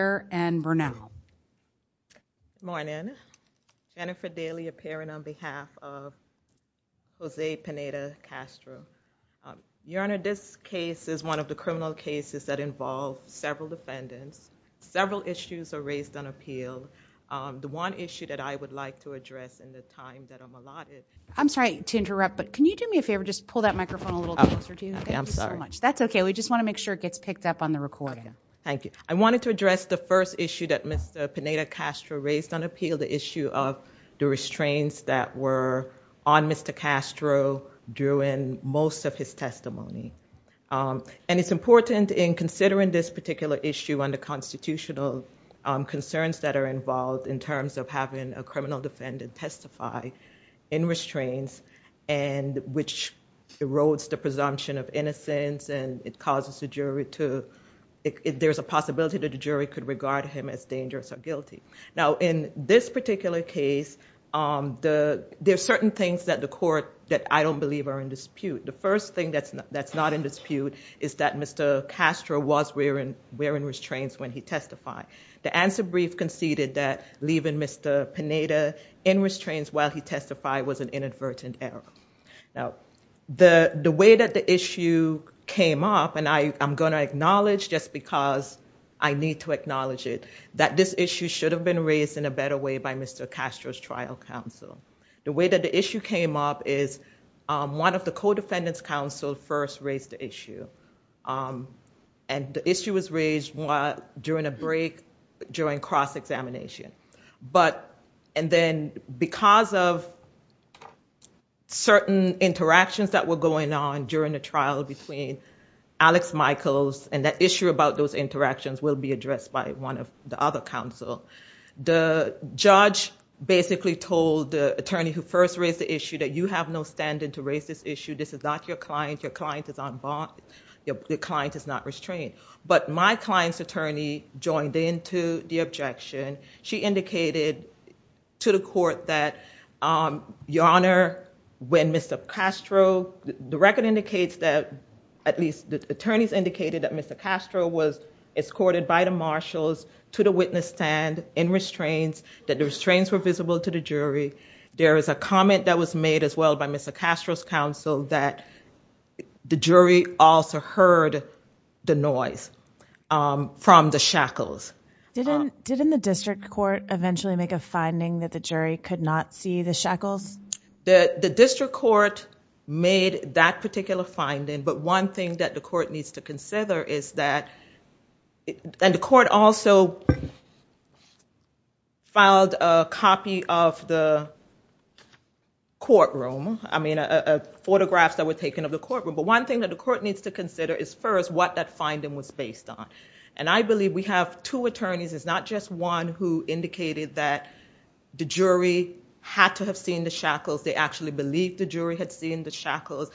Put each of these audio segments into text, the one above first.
and Bernal. Good morning. Jennifer Daly appearing on behalf of Jose Pineda Castro. Your Honor, this case is one of the criminal cases that involved several defendants. Several issues are raised on appeal. The one issue that I would like to address in the time that I'm allotted. I'm sorry to interrupt, but can you do me a favor? Just pull that microphone a little closer to you. I'm sorry. That's okay. We just want to make sure it gets picked up on the recording. Thank you. I wanted to address the first issue that Mr. Pineda Castro raised on appeal. The issue of the restraints that were on Mr. Castro during most of his testimony. And it's important in considering this particular issue under constitutional concerns that are involved in terms of having a criminal defendant testify in restraints and which erodes the presumption of innocence and it causes the jury to, there's a possibility that the jury could regard him as dangerous or guilty. Now, in this particular case, there's certain things that the court that I don't believe are in dispute. The first thing that's not in dispute is that Mr. Castro was wearing restraints when he testified. The answer brief conceded that leaving Mr. Pineda in restraints while he testified was an inadvertent error. Now, the way that the issue came up, and I'm going to acknowledge just because I need to acknowledge it, that this issue should have been raised in a better way by Mr. Castro's trial counsel. The way that the issue came up is one of the co-defendants counsel first raised the issue. And the issue was raised during a break during cross-examination. And then because of certain interactions that were going on during the trial between Alex Michaels and that issue about those interactions will be addressed by one of the other counsel. The judge basically told the attorney who first raised the issue that you have no standing to raise this issue. This is not your client. Your client is not restrained. But my client's attorney joined into the objection. She indicated to the court that, Your Honor, when Mr. Castro, the record indicates that, at least the attorneys indicated that Mr. Castro was escorted by the marshals to the witness stand in restraints, that the restraints were visible to the jury. There was a comment that was made as well by Mr. Castro's counsel that the jury also heard the noise from the shackles. Did the district court eventually make a finding that the jury could not see the shackles? The district court made that particular finding. But one thing that the court needs to consider is that, and the court also filed a copy of the record that the jury received, that the court room, I mean photographs that were taken of the court room, but one thing that the court needs to consider is first what that finding was based on. I believe we have two attorneys, it's not just one who indicated that the jury had to have seen the shackles. They actually believed the jury had seen the shackles.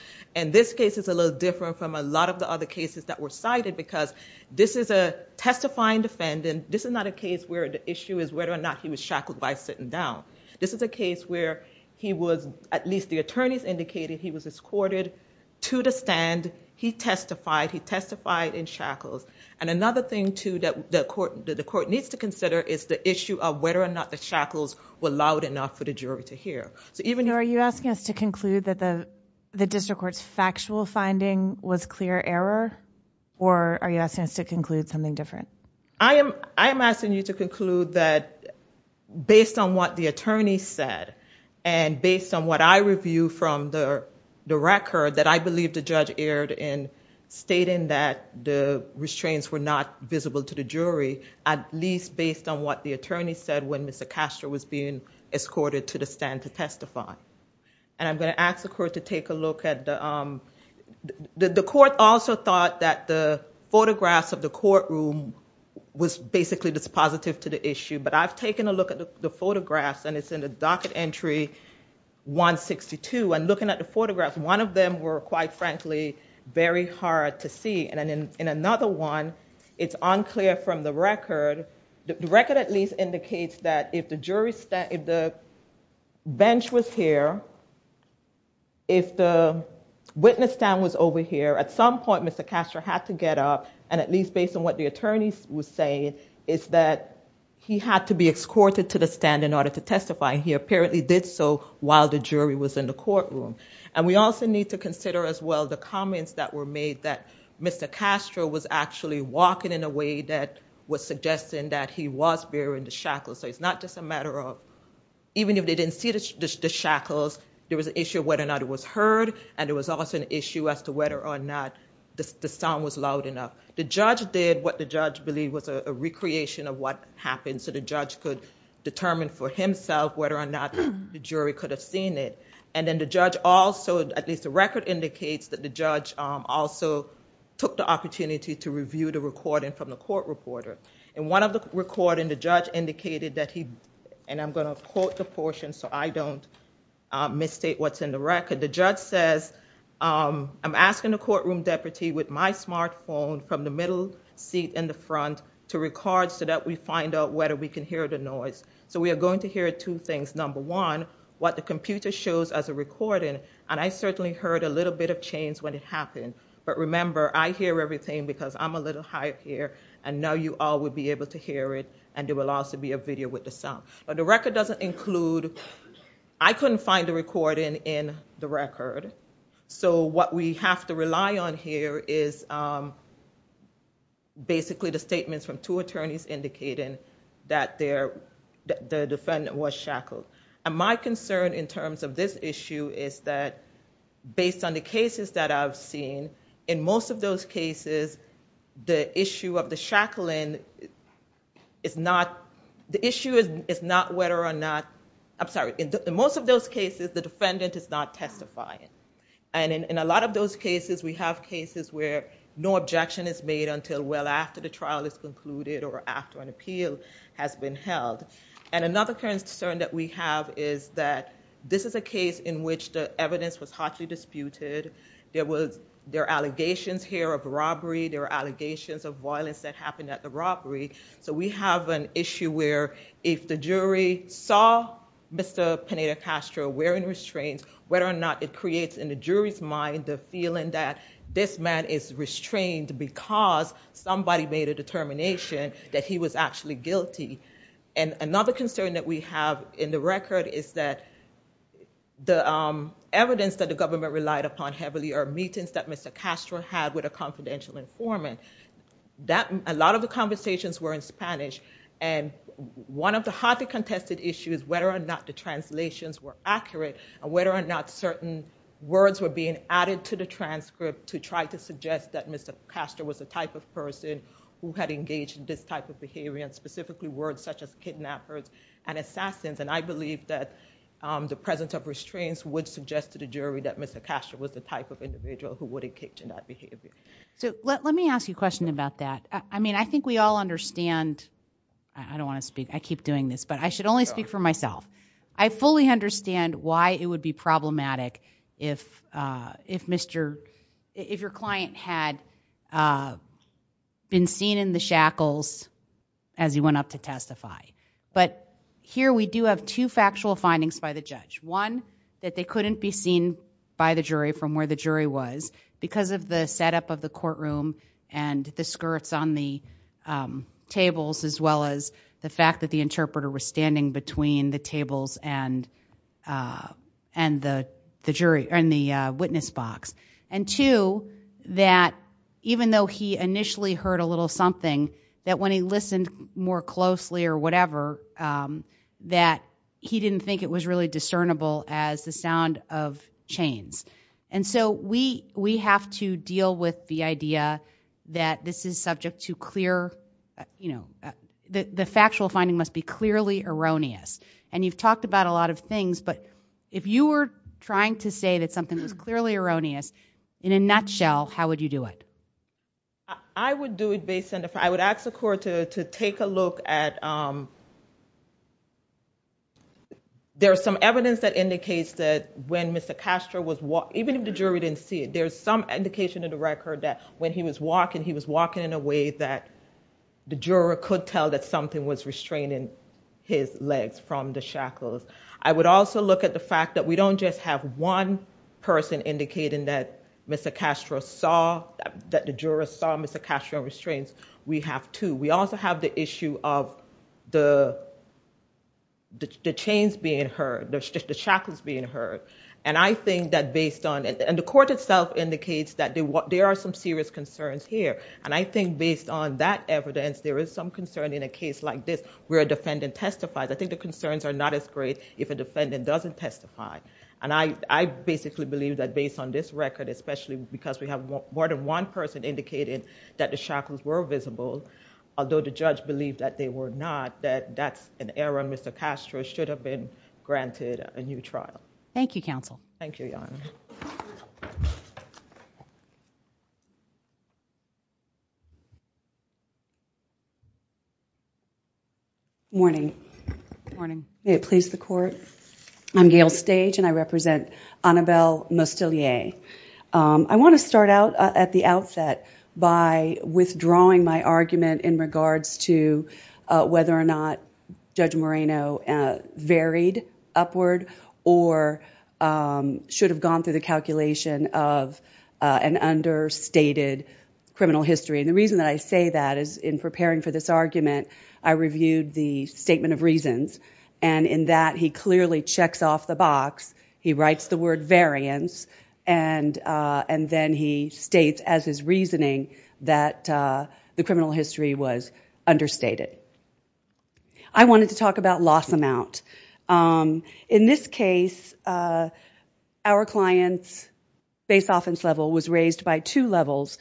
This case is a little different from a lot of the other cases that were cited because this is a testifying defendant. This is not a case where the issue is whether or not he was shackled by sitting down. This is a case where he was, at least the attorneys indicated, he was escorted to the stand, he testified, he testified in shackles. And another thing too that the court needs to consider is the issue of whether or not the shackles were loud enough for the jury to hear. So are you asking us to conclude that the district court's factual finding was clear error or are you asking us to conclude something different? I am asking you to conclude that based on what the attorney said and based on what I review from the record that I believe the judge erred in stating that the restraints were not visible to the jury, at least based on what the attorney said when Mr. Castro was being escorted to the stand to testify. And I'm going to ask the court to take a look at the, the court also thought that the photographs of the courtroom was basically dispositive to the issue, but I've taken a look at the photographs and it's in the docket entry 162 and looking at the photographs, one of them were quite frankly very hard to see. And in another one, it's unclear from the record, the record at least indicates that if the witness stand was over here, at some point Mr. Castro had to get up and at least based on what the attorney was saying is that he had to be escorted to the stand in order to testify and he apparently did so while the jury was in the courtroom. And we also need to consider as well the comments that were made that Mr. Castro was actually walking in a way that was suggesting that he was bearing the shackles. So it's not just a matter of even if they didn't see the shackles, there was an issue of whether or not it was heard and there was also an issue as to whether or not the sound was loud enough. The judge did what the judge believed was a recreation of what happened so the judge could determine for himself whether or not the jury could have seen it. And then the judge also, at least the record indicates that the judge also took the opportunity to review the recording from the court reporter. In one of the recordings, the judge indicated that he, and I'm going to quote the portion so I don't misstate what's in the record. The judge says, I'm asking the courtroom deputy with my smartphone from the middle seat in the front to record so that we find out whether we can hear the noise. So we are going to hear two things. Number one, what the computer shows as a recording and I certainly heard a little bit of change when it happened but remember I hear everything because I'm a little higher here and now you all would be able to hear it and there will also be a video with the sound. But the record doesn't include, I couldn't find the recording in the record so what we have to rely on here is basically the statements from two attorneys indicating that the defendant was shackled. My concern in terms of this issue is that based on the cases that I've seen, in most of those cases the issue of the shackling is not, the issue is not whether or not the defendant, I'm sorry, in most of those cases the defendant is not testifying and in a lot of those cases we have cases where no objection is made until well after the trial is concluded or after an appeal has been held. And another concern that we have is that this is a case in which the evidence was hotly disputed, there were allegations here of robbery, there were allegations of violence that happened at the robbery so we have an issue where if the jury saw Mr. Pineda Castro wearing restraints whether or not it creates in the jury's mind the feeling that this man is restrained because somebody made a determination that he was actually guilty. And another concern that we have in the record is that the evidence that the government relied upon heavily are meetings that Mr. Castro had with a confidential informant. A lot of the conversations were in Spanish and one of the hotly contested issues whether or not the translations were accurate or whether or not certain words were being added to the transcript to try to suggest that Mr. Castro was the type of person who had engaged in this type of behavior and specifically words such as kidnappers and assassins and I believe that the presence of restraints would suggest to the jury that Mr. Castro was the type of individual who would engage in that behavior. So let me ask you a question about that. I mean I think we all understand, I don't want to speak, I keep doing this, but I should only speak for myself. I fully understand why it would be problematic if your client had been seen in the shackles as he went up to testify. But here we do have two factual findings by the judge. One, that they couldn't be seen by the jury from where the jury was because of the setup of the courtroom and the skirts on the tables as well as the fact that the interpreter was standing between the tables and the witness box. And two, that even though he initially heard a little something that when he listened more closely or whatever that he didn't think it was really discernible as the sound of chains. And so we have to deal with the idea that this is subject to clear, you know, the factual finding must be clearly erroneous. And you've talked about a lot of things, but if you were trying to say that something was clearly erroneous in a nutshell, how would you do it? I would do it based on, I would ask the court to take a look at, there's some evidence that indicates that when Mr. Castro was walking, even if the jury didn't see it, there's some indication in the record that when he was walking, he was walking in a way that the juror could tell that something was restraining his legs from the shackles. I would also look at the fact that we don't just have one person indicating that Mr. Castro saw, that the juror saw Mr. Castro's restraints, we have two. We also have the issue of the chains being heard, the shackles being heard. And I think that based on, and the court itself indicates that there are some serious concerns here. And I think based on that evidence, there is some concern in a case like this where a defendant testifies. I think the concerns are not as great if a defendant doesn't testify. And I basically believe that based on this record, especially because we have more than one person indicating that the shackles were visible, although the judge believed that they were not, that that's an error. Mr. Castro should have been granted a new trial. Thank you, counsel. Thank you, Your Honor. Good morning. May it please the court. I'm Gail Stage and I represent Annabelle Mostillier. I want to start out at the outset by withdrawing my argument in regards to whether or not Judge Moreno varied upward or should have gone through the calculation of an understated criminal history. And the reason that I say that is in preparing for this argument, I reviewed the statement of reasons. And in that, he clearly checks off the box. He writes the word variance and then he states as his reasoning that the criminal history was understated. I wanted to talk about loss amount. In this case, our client's base offense level was raised by two levels,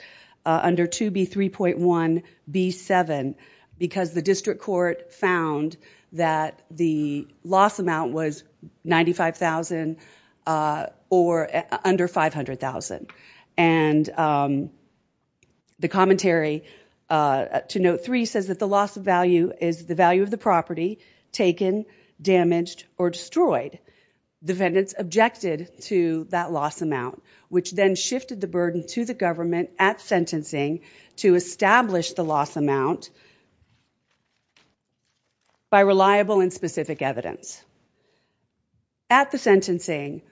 under 2B3.1B7, because the district court found that the loss amount was $95,000 or under $500,000. And the commentary to note three says that the loss of value is the value of the property taken, damaged, or destroyed. Defendants objected to that loss amount, which then shifted the burden to the government at sentencing to establish the loss amount by reliable and specific evidence. At the sentencing,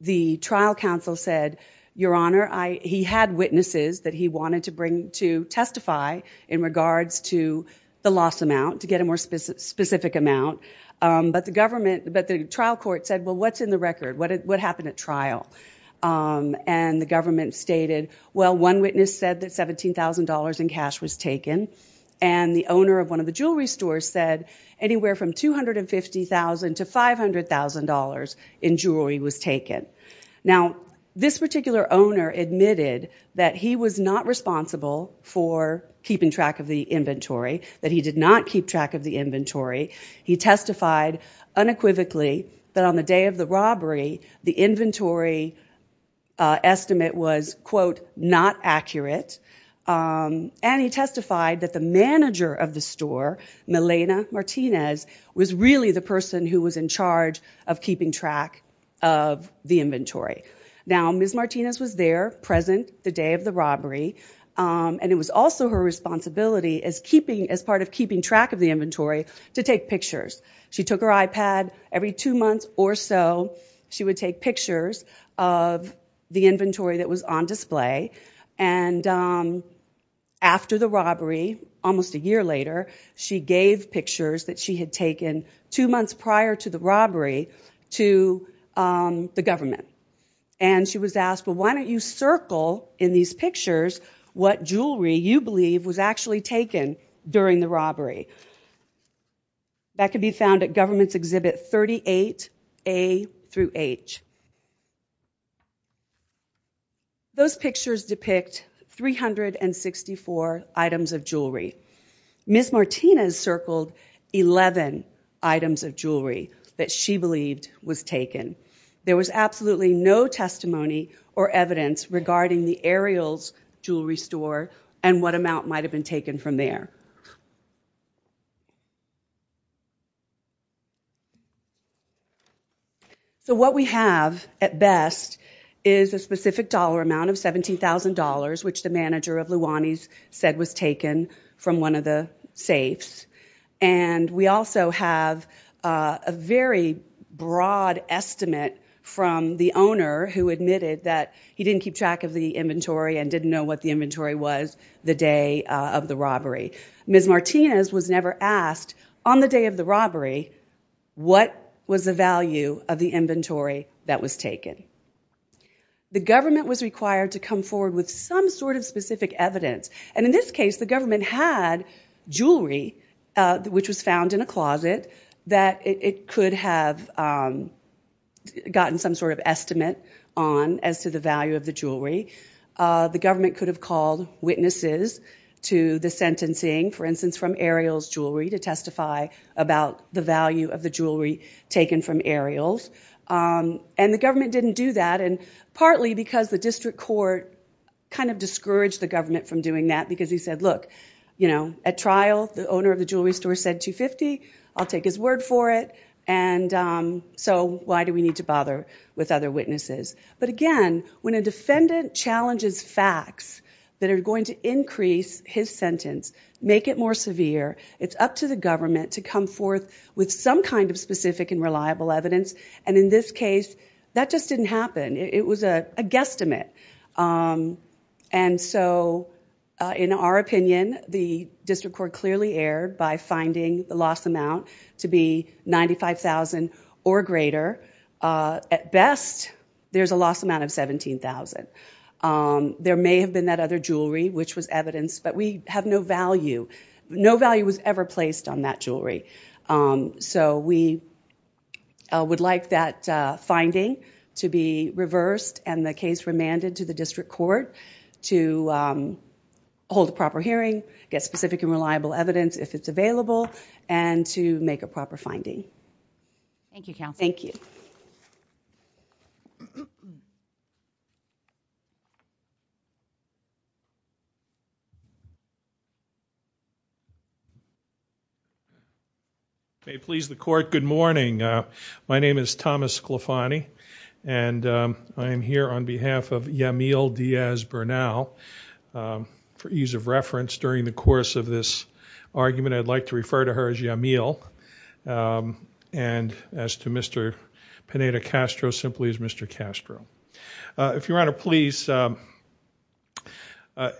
the trial counsel said, your honor, he had witnesses that he wanted to bring to testify in regards to the loss amount to get a more specific amount. But the trial court said, well, what's in the record? What happened at trial? And the government stated, well, one witness said that $17,000 in cash was taken. And the owner of one of the jewelry stores said anywhere from $250,000 to $500,000 in jewelry was taken. Now, this particular owner admitted that he was not responsible for keeping track of the inventory, that he did not keep track of the inventory. He testified unequivocally that on the day of the robbery, the inventory estimate was, quote, not accurate. And he testified that the manager of the store, Milena Martinez, was really the person who was in charge of keeping track of the inventory. Now, Ms. Martinez was there present the day of the robbery. And it was also her responsibility as part of keeping track of the inventory to take pictures. She took her iPad. Every two months or so, she would take pictures of the inventory that was on display. And after the robbery, almost a year later, she gave pictures that she had taken two months prior to the robbery to the government. And she was asked, well, why don't you circle in these pictures what jewelry you believe was actually taken during the robbery? That could be found at government's 38A through H. Those pictures depict 364 items of jewelry. Ms. Martinez circled 11 items of jewelry that she believed was taken. There was absolutely no testimony or evidence regarding the Ariel's Jewelry Store and what amount might have been taken from there. So what we have at best is a specific dollar amount of $17,000, which the manager of Luani's said was taken from one of the safes. And we also have a very broad estimate from the inventory and didn't know what the inventory was the day of the robbery. Ms. Martinez was never asked on the day of the robbery what was the value of the inventory that was taken. The government was required to come forward with some sort of specific evidence. And in this case, the government had jewelry which was found in a closet that it could have gotten some sort of estimate on as to the value of the jewelry. The government could have called witnesses to the sentencing, for instance, from Ariel's Jewelry to testify about the value of the jewelry taken from Ariel's. And the government didn't do that, and partly because the district court kind of discouraged the government from doing that because he said, look, at trial, the owner of the jewelry store said $250. I'll take his word for it. So why do we need to bother with other witnesses? But again, when a defendant challenges facts that are going to increase his sentence, make it more severe, it's up to the government to come forth with some kind of specific and reliable evidence. And in this case, that just didn't happen. It was a guesstimate. And so in our opinion, the district court clearly erred by finding the loss amount to be $95,000 or greater. At best, there's a loss amount of $17,000. There may have been that other jewelry which was evidence, but we have no value. No value was ever placed on that jewelry. So we would like that finding to be reversed and the case remanded to the district court to hold a proper hearing, get specific and reliable evidence if it's available, and to make a proper finding. Thank you, counsel. Thank you. May it please the court, good morning. My name is Thomas Clefani, and I am here on behalf of Yamil Diaz Bernal. For ease of reference, during the course of this argument, I'd like to refer to her as Yamil. And as to Mr. Pineda Castro, simply as Mr. Castro. If your honor, please,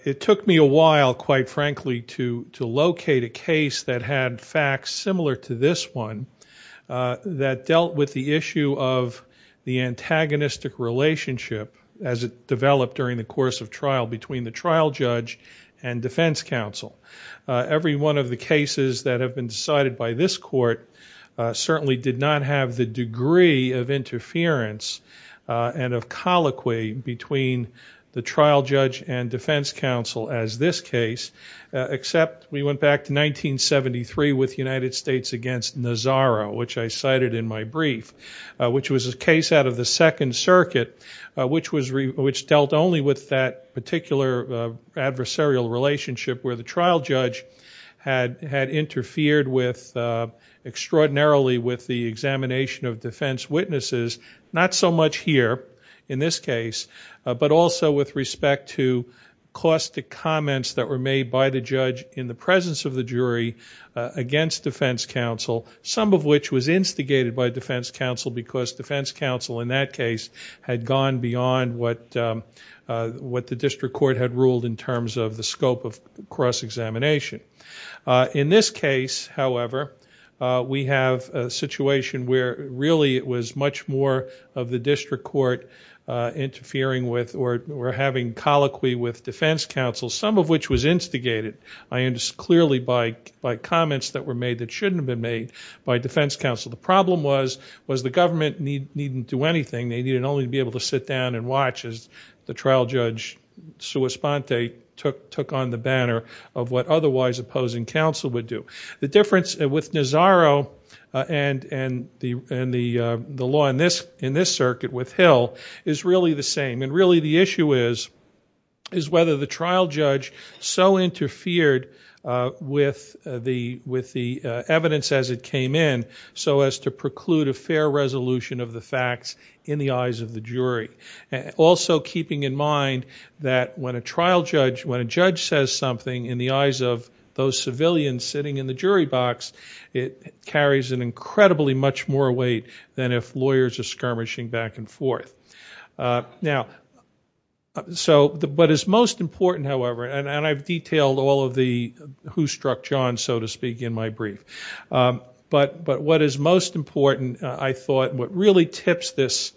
it took me a while, quite frankly, to locate a case that had facts similar to this one that dealt with the issue of the antagonistic relationship as it developed during the course of trial between the trial judge and defense counsel. Every one of the cases that have been decided by this court certainly did not have the degree of interference and of colloquy between the trial judge and defense counsel as this case, except we went back to 1973 with United States against Nazaro, which I cited in my brief, which was a case out of the second circuit, which dealt only with that particular adversarial relationship where the trial judge had interfered extraordinarily with the examination of defense witnesses. Not so much here, in this case, but also with respect to caustic comments that were made by the judge in the presence of the jury against defense counsel, some of which was instigated by defense counsel because defense counsel in that case had gone beyond what the district court had ruled in terms of the scope of cross-examination. In this case, however, we have a situation where really it was much more of the district court interfering with or having colloquy with defense counsel, some of which was instigated clearly by comments that were made that shouldn't have been made by defense counsel. The problem was the government neededn't do anything. They needed only to be able to sit down and watch as the trial judge took on the banner of what otherwise opposing counsel would do. The difference with Nazaro and the law in this circuit with Hill is really the same. Really the issue is whether the trial judge so interfered with the evidence as it came in so as to preclude a fair resolution of the facts in the eyes of the jury. Also keeping in mind that when a judge says something in the eyes of those civilians sitting in the jury box, it carries an incredibly much more weight than if lawyers are skirmishing back and forth. What is most important, however, and I've detailed all of the who struck John, so to speak, in my brief. What is most important, I thought, what really tips this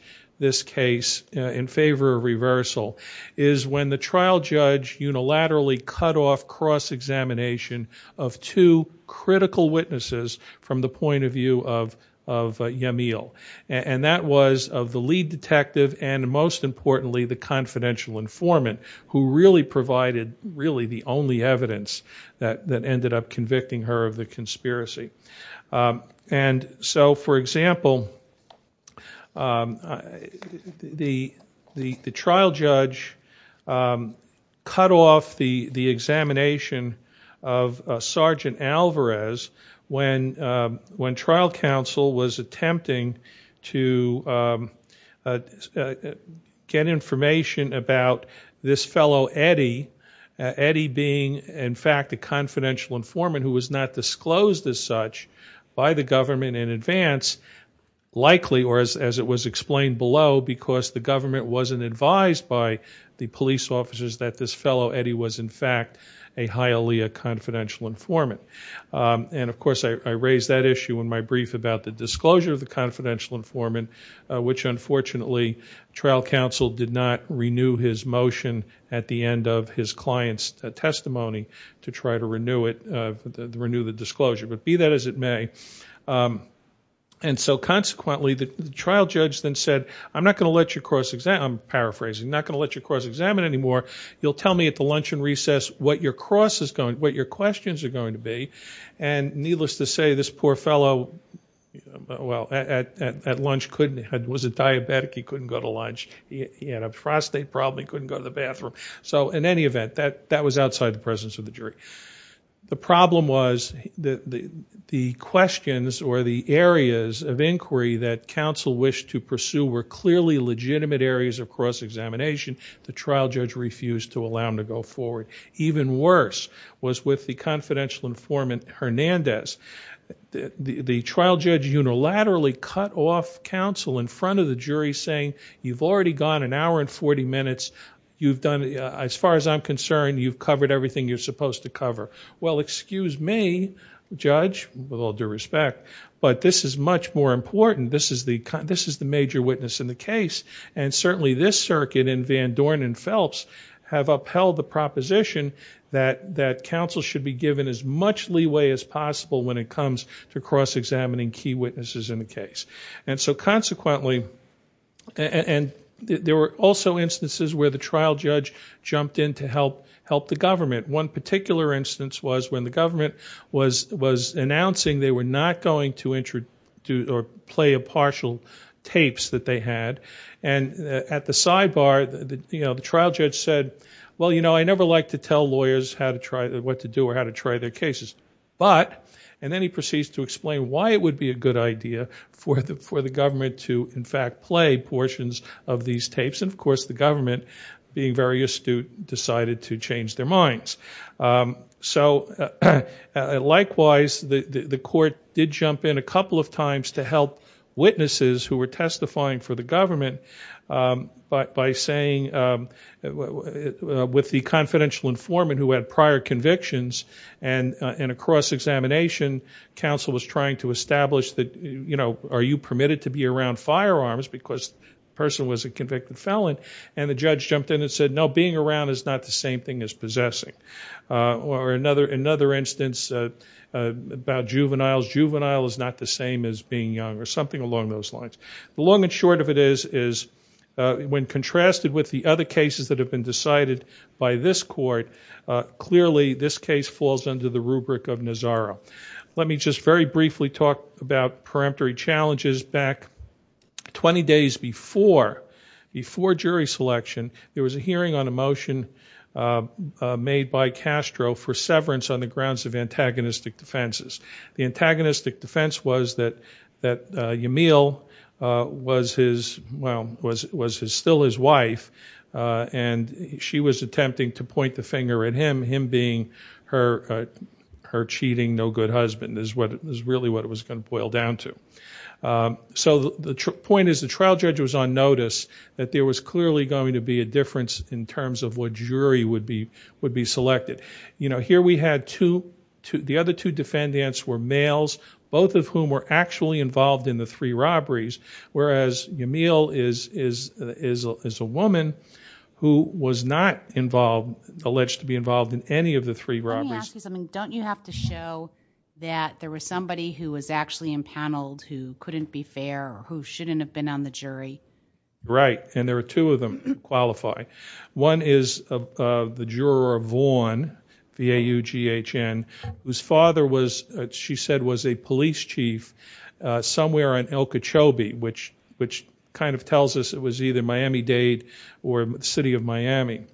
case in favor of reversal is when the trial judge unilaterally cut off cross-examination of two critical witnesses from the point of view of Yamil. That was of the lead detective and most importantly the confidential informant who really provided really the only evidence that ended up convicting her of the conspiracy. For example, the trial judge cut off the examination of Sergeant Alvarez when trial counsel was attempting to get information about this fellow, Eddie. Eddie being, in fact, a confidential informant who was not disclosed as such by the government in advance, likely, or as it was explained below, because the government wasn't advised by the police officers that this fellow, Eddie, was, in fact, a highly confidential informant. Of course, I raised that issue in my brief about the disclosure of the confidential informant, which unfortunately trial counsel did not renew his motion at the end of his client's request to renew the disclosure, but be that as it may. Consequently, the trial judge then said, I'm not going to let you cross-examine, I'm paraphrasing, I'm not going to let you cross-examine anymore. You'll tell me at the luncheon recess what your questions are going to be. Needless to say, this poor fellow, at lunch, was a diabetic, he couldn't go to lunch. He had a prostate problem, he couldn't go to lunch. The problem was, the questions or the areas of inquiry that counsel wished to pursue were clearly legitimate areas of cross-examination. The trial judge refused to allow him to go forward. Even worse was with the confidential informant, Hernandez. The trial judge unilaterally cut off counsel in front of the jury saying, you've already gone an hour and 40 minutes, you've done, as far as I'm concerned, you've covered everything you're supposed to cover. Well, excuse me, judge, with all due respect, but this is much more important, this is the major witness in the case, and certainly this circuit and Van Dorn and Phelps have upheld the proposition that counsel should be given as much leeway as possible when it comes to cross-examining key witnesses in the case. And so consequently, and there were also instances where the trial judge jumped in to help the government. One particular instance was when the government was announcing they were not going to play a partial tapes that they had, and at the sidebar, the trial judge said, well, you know, I never like to tell lawyers what to do or how to try their cases. But, and then he proceeds to explain why it would be a good idea for the government to in fact play portions of these tapes, and of course the government, being very astute, decided to change their minds. So likewise, the court did jump in a couple of times to help witnesses who were testifying for the government by saying, with the confidential informant who had prior convictions, and in a cross-examination, counsel was trying to establish that, you know, are you permitted to be around firearms, because the person was a convicted felon, and the judge jumped in and said, no, being around is not the same thing as possessing. Or another instance about juveniles, juvenile is not the same as being young, or something along those lines. The long and short of it is, when contrasted with the other cases that have been decided by this court, clearly this case falls under the rubric of Nazaro. Let me just very briefly talk about peremptory challenges. Back 20 days before, before jury selection, there was a hearing on a motion made by Castro for severance on the grounds of antagonistic defenses. The antagonistic defense was that Yamil was his, well, was still his wife, and she was attempting to point the finger at him, him being her cheating no good husband, is really what it was going to boil down to. So the point is, the trial judge was on notice that there was clearly going to be a difference in terms of what jury would be selected. You know, here we had two, the other two defendants were males, both of whom were actually involved in the three robberies, whereas Yamil is a woman who was not involved, alleged to be involved in any of the three robberies. Can I ask you something? Don't you have to show that there was somebody who was actually impaneled who couldn't be fair, who shouldn't have been on the jury? Right, and there were two of them to qualify. One is the juror Vaughn, V-A-U-G-H-N, whose father was, she said, was a police chief somewhere on El Cachobe, which kind of tells us it was either Miami-Dade or the city of Miami.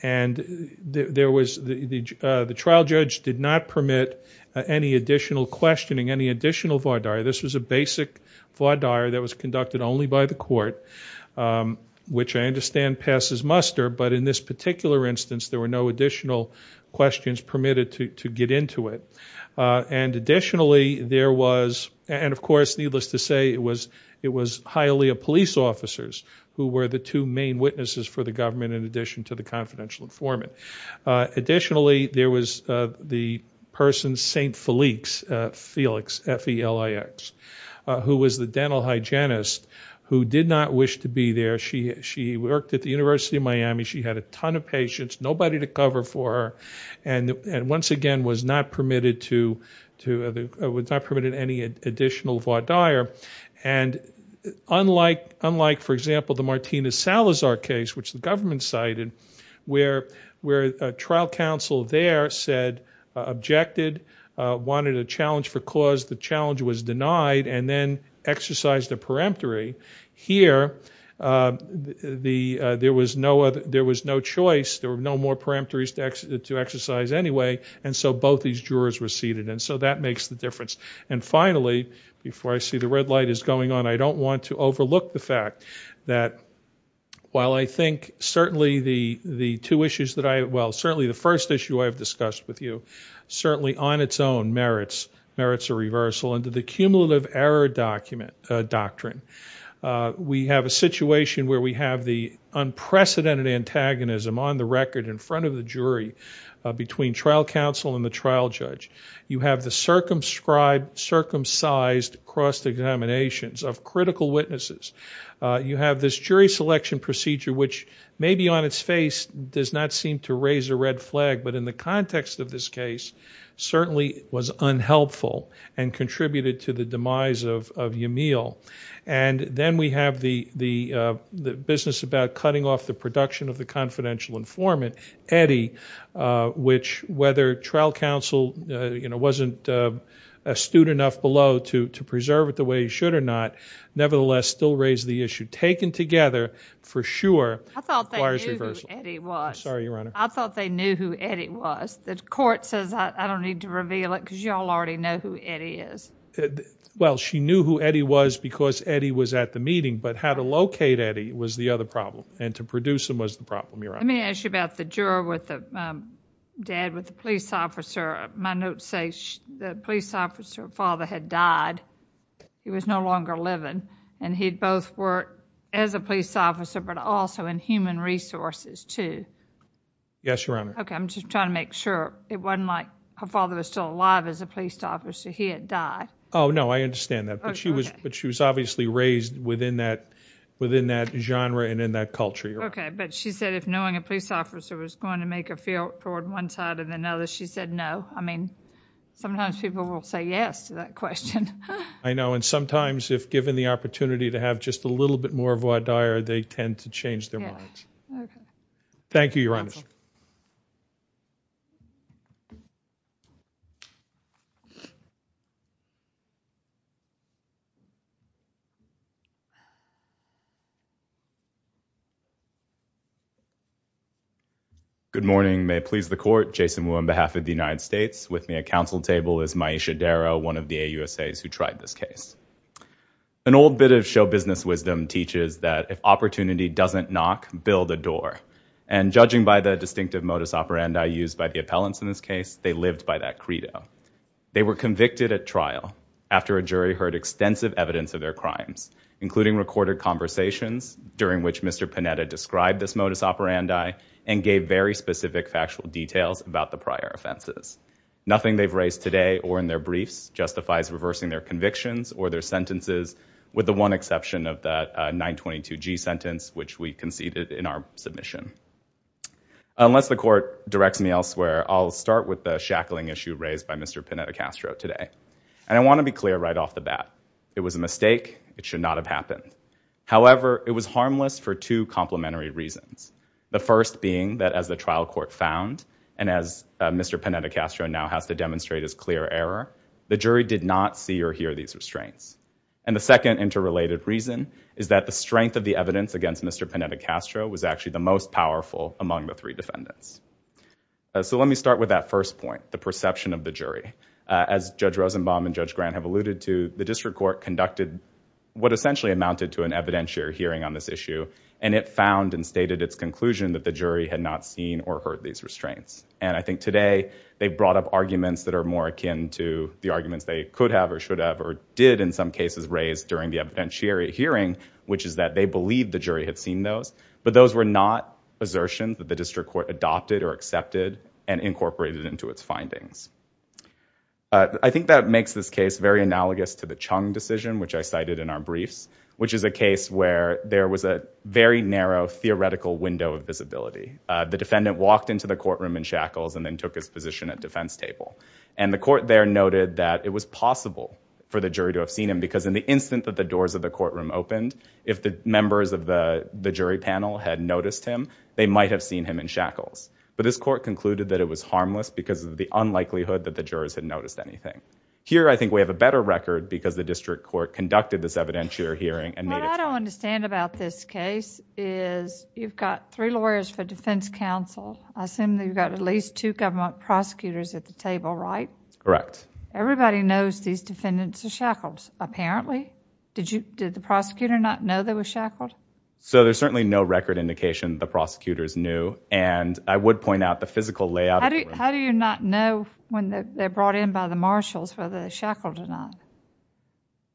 And there was, the trial judge did not permit any additional questioning, any additional vardar. This was a basic vardar that was conducted only by the court, which I understand passes muster, but in this particular instance there were no additional questions permitted to get into it. And additionally, there was, and of course, needless to say, it was Hialeah police officers who were the two main witnesses for the government in addition to the confidential informant. Additionally, there was the person St. Felix, F-E-L-I-X, who was the dental hygienist who did not wish to be there. She worked at the University of Miami. She had a ton of patients, nobody to cover for her, and once again was not permitted to, was not permitted any additional vardar. And unlike, unlike for example, the Martina Salazar case, which the government cited, where, where a trial counsel there said, objected, wanted a challenge for cause, the challenge was denied, and then exercised a peremptory. Here, the, there was no other, there was no choice, there were no more peremptories to exercise anyway, and so both these jurors receded. And so that makes the difference. And finally, before I see the red light is going on, I don't want to overlook the fact that while I think certainly the, the two issues that I, well certainly the first issue I have discussed with you, certainly on its own merits, merits a reversal into the cumulative error document, doctrine. We have a situation where we have the unprecedented antagonism on the record in front of the jury between trial counsel and the trial judge. You have the circumscribed, circumcised cross-examinations of critical witnesses. You have this jury selection procedure, which maybe on its face does not seem to raise a red flag, but in the context of this case certainly was unhelpful and contributed to the demise of, of Yamil. And then we have the, the, the business about cutting off the production of the confidential informant, Eddie, which whether trial counsel, you know, wasn't astute enough below to, to preserve it the way he should or not, nevertheless still raised the issue. Taken together for sure requires reversal. I thought they knew who Eddie was. I'm sorry, Your Honor. I thought they knew who Eddie was. The court says I don't need to reveal it because you all already know who Eddie is. Well, she knew who Eddie was because Eddie was at the meeting, but how to locate Eddie was the other problem and to produce him was the problem, Your Honor. Let me ask you about the juror with the, dad with the police officer. My notes say the police officer father had died. He was no longer living and he'd both worked as a police officer but also in human resources too. Yes, Your Honor. Okay, I'm just trying to make sure it wasn't like her father was still alive as a police officer. He had died. Oh, no, I understand that, but she was, but she was obviously raised within that, within that genre and in that culture, Your Honor. Okay, but she said if knowing a police officer was going to make a field toward one side or the other, she said no. I mean, sometimes people will say yes to that question. I know and sometimes if given the opportunity to have just a little bit more of a voir dire, they tend to change their minds. Yeah. Okay. Thank you, Your Honor. Good morning. May it please the court, Jason Wu on behalf of the United States. With me at council table is Maisha Darrow, one of the AUSAs who tried this case. An old bit of show business wisdom teaches that if opportunity doesn't knock, build a And judging by the distinctive modus operandi used by the appellants in this case, they lived by that credo. They were convicted at trial after a jury heard extensive evidence of their crimes, including recorded conversations during which Mr. Panetta described this modus operandi and gave very specific factual details about the prior offenses. Nothing they've raised today or in their briefs justifies reversing their convictions or their sentences with the one which we conceded in our submission. Unless the court directs me elsewhere, I'll start with the shackling issue raised by Mr. Panetta Castro today. And I want to be clear right off the bat. It was a mistake. It should not have happened. However, it was harmless for two complementary reasons. The first being that as the trial court found and as Mr. Panetta Castro now has to demonstrate his clear error, the jury did not see or hear these restraints. And the second interrelated reason is that the strength of the evidence against Mr. Panetta Castro was actually the most powerful among the three defendants. So let me start with that first point, the perception of the jury. As Judge Rosenbaum and Judge Grant have alluded to, the district court conducted what essentially amounted to an evidentiary hearing on this issue. And it found and stated its conclusion that the jury had not seen or heard these restraints. And I think today they've brought up arguments that are more akin to the arguments they could have or should have did in some cases raise during the evidentiary hearing, which is that they believed the jury had seen those. But those were not assertions that the district court adopted or accepted and incorporated into its findings. I think that makes this case very analogous to the Chung decision, which I cited in our briefs, which is a case where there was a very narrow theoretical window of visibility. The defendant walked into the courtroom in shackles and then took his table. And the court there noted that it was possible for the jury to have seen him because in the instant that the doors of the courtroom opened, if the members of the jury panel had noticed him, they might have seen him in shackles. But this court concluded that it was harmless because of the unlikelihood that the jurors had noticed anything. Here, I think we have a better record because the district court conducted this evidentiary hearing and made it. What I don't understand about this case is you've got three lawyers for defense counsel. I assume you've got at least two government prosecutors at the table, right? Correct. Everybody knows these defendants are shackled, apparently. Did the prosecutor not know they were shackled? So there's certainly no record indication the prosecutors knew. And I would point out the physical layout. How do you not know when they're brought in by the marshals whether they're shackled or not?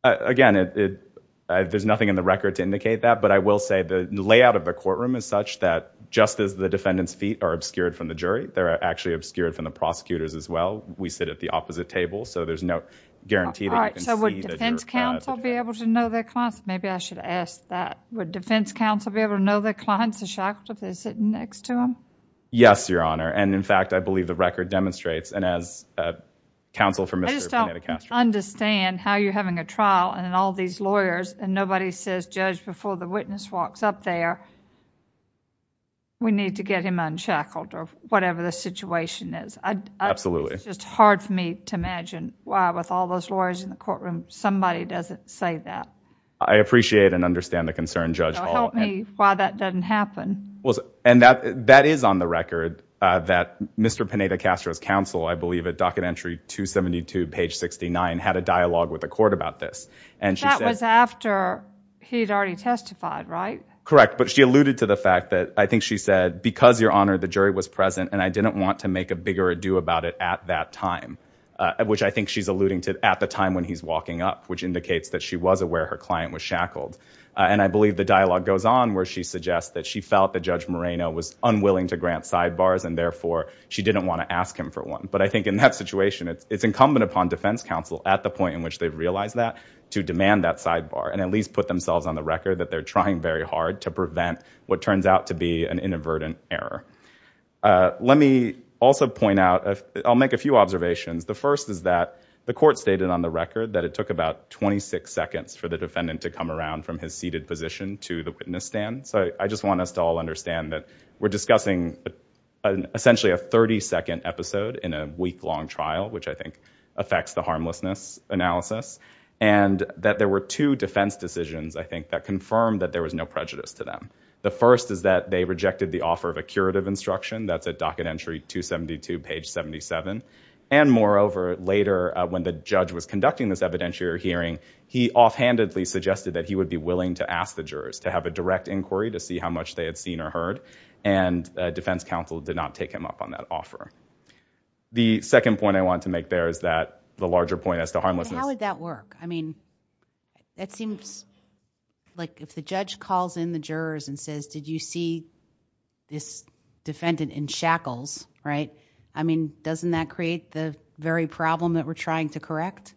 Again, there's nothing in the record to indicate that. But I will say the layout of the courtroom is such that just as the defendant's feet are obscured from the jury, they're actually obscured from the prosecutor's as well. We sit at the opposite table. So there's no guarantee that you can see that you're caught. All right. So would defense counsel be able to know their clients? Maybe I should ask that. Would defense counsel be able to know their clients are shackled if they're sitting next to them? Yes, Your Honor. And in fact, I believe the record demonstrates. And as counsel for Mr. Panetticastro. I just don't understand how you're having a trial and all these lawyers and nobody says before the witness walks up there, we need to get him unshackled or whatever the situation is. Absolutely. It's hard for me to imagine why with all those lawyers in the courtroom, somebody doesn't say that. I appreciate and understand the concern, Judge Hall. Help me why that doesn't happen. And that is on the record that Mr. Panetticastro's counsel, I believe at docket entry 272, page 69, had a dialogue with the court about this. And that was after he had already testified, right? Correct. But she alluded to the fact that I think she said, because Your Honor, the jury was present and I didn't want to make a bigger ado about it at that time, which I think she's alluding to at the time when he's walking up, which indicates that she was aware her client was shackled. And I believe the dialogue goes on where she suggests that she felt that Judge Moreno was unwilling to grant sidebars and therefore she didn't want to ask him for one. But I think in that situation, it's incumbent upon defense counsel at the point in which they've realized that to demand that sidebar and at least put themselves on the record that they're trying very hard to prevent what turns out to be an inadvertent error. Let me also point out, I'll make a few observations. The first is that the court stated on the record that it took about 26 seconds for the defendant to come around from his seated position to the witness stand. So I just want us to all understand that we're discussing essentially a 30-second episode in a week-long trial, which I think affects the harmlessness analysis. And that there were two defense decisions, I think, that confirmed that there was no prejudice to them. The first is that they rejected the offer of a curative instruction. That's at docket entry 272, page 77. And moreover, later when the judge was conducting this evidentiary hearing, he offhandedly suggested that he would be willing to ask the jurors to have a direct inquiry to see how much they had seen or heard. And defense counsel did not take him up on that offer. The second point I want to make there is that the larger point as to harmlessness. How would that work? I mean, that seems like if the judge calls in the jurors and says, did you see this defendant in shackles, right? I mean, doesn't that create the very problem that we're trying to correct?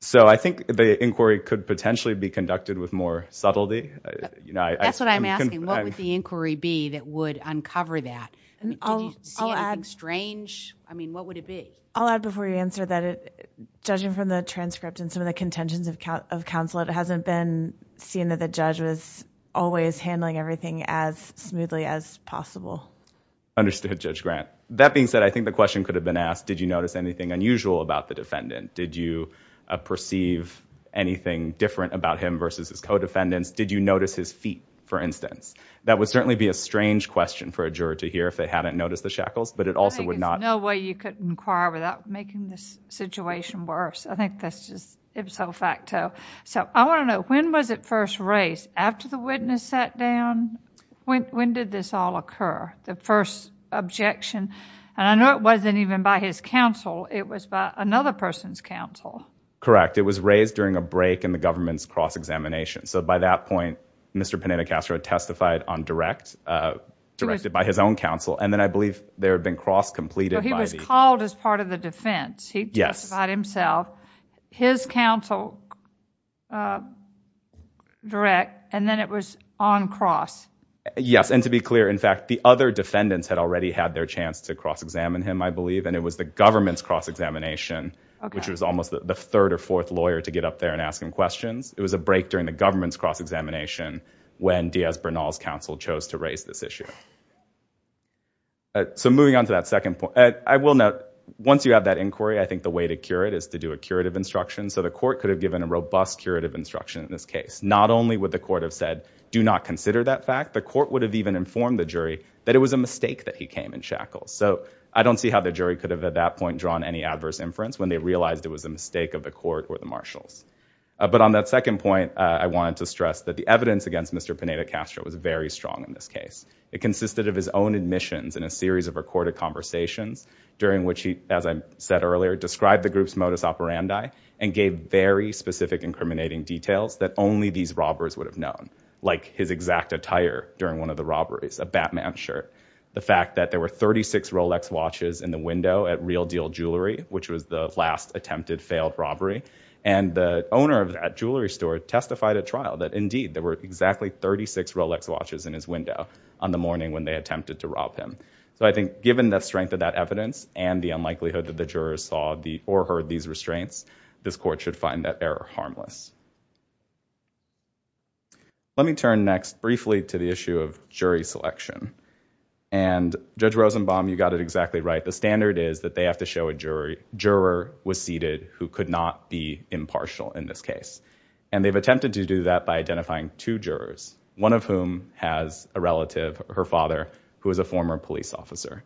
So I think the inquiry could potentially be conducted with more subtlety. That's what I'm asking. What would the inquiry be that would uncover that? Did you see anything strange? I mean, what would it be? I'll add before you answer that judging from the transcript and some of the contentions of counsel, it hasn't been seen that the judge was always handling everything as smoothly as possible. Understood, Judge Grant. That being said, I think the question could have been asked, did you notice anything unusual about the defendant? Did you perceive anything different about him versus his co-defendants? Did you notice his feet, for instance? That would certainly be a strange question for a juror to hear if they hadn't noticed the shackles, but it also would not- There's no way you could inquire without making this situation worse. I think that's just ipso facto. So I want to know, when was it first raised? After the witness sat down, when did this all occur? The first objection, and I know it wasn't even by his counsel. It was by another person's counsel. Correct. It was raised during a break in the government's cross-examination. By that point, Mr. Panetta-Castro testified on direct, directed by his own counsel, and then I believe there had been cross-completed by the- He was called as part of the defense. He testified himself, his counsel direct, and then it was on cross. Yes, and to be clear, in fact, the other defendants had already had their chance to cross-examine him, I believe, and it was the government's cross-examination, which was almost the third or fourth lawyer to get up there and ask him questions. It was a break during the government's cross-examination when Diaz-Bernal's counsel chose to raise this issue. So moving on to that second point, I will note, once you have that inquiry, I think the way to cure it is to do a curative instruction. So the court could have given a robust curative instruction in this case. Not only would the court have said, do not consider that fact, the court would have even informed the jury that it was a mistake that he came in shackles. So I don't see how the jury could have, at that point, drawn any adverse inference when they realized it was a mistake of the court or the marshals. But on that second point, I wanted to stress that the evidence against Mr. Pineda-Castro was very strong in this case. It consisted of his own admissions and a series of recorded conversations during which he, as I said earlier, described the group's modus operandi and gave very specific incriminating details that only these robbers would have known, like his exact attire during one of the robberies, a Batman shirt. The fact that there were 36 Rolex watches in the window at Real Deal Jewelry, which was the last attempted failed robbery. And the owner of that jewelry store testified at trial that, indeed, there were exactly 36 Rolex watches in his window on the morning when they attempted to rob him. So I think given the strength of that evidence and the unlikelihood that the jurors saw or heard these restraints, this court should find that error harmless. Let me turn next briefly to the issue of jury selection. And Judge Rosenbaum, you got it exactly right. The standard is that they have to show a juror was seated who could not be impartial in this case. And they've attempted to do that by identifying two jurors, one of whom has a relative, her father, who is a former police officer.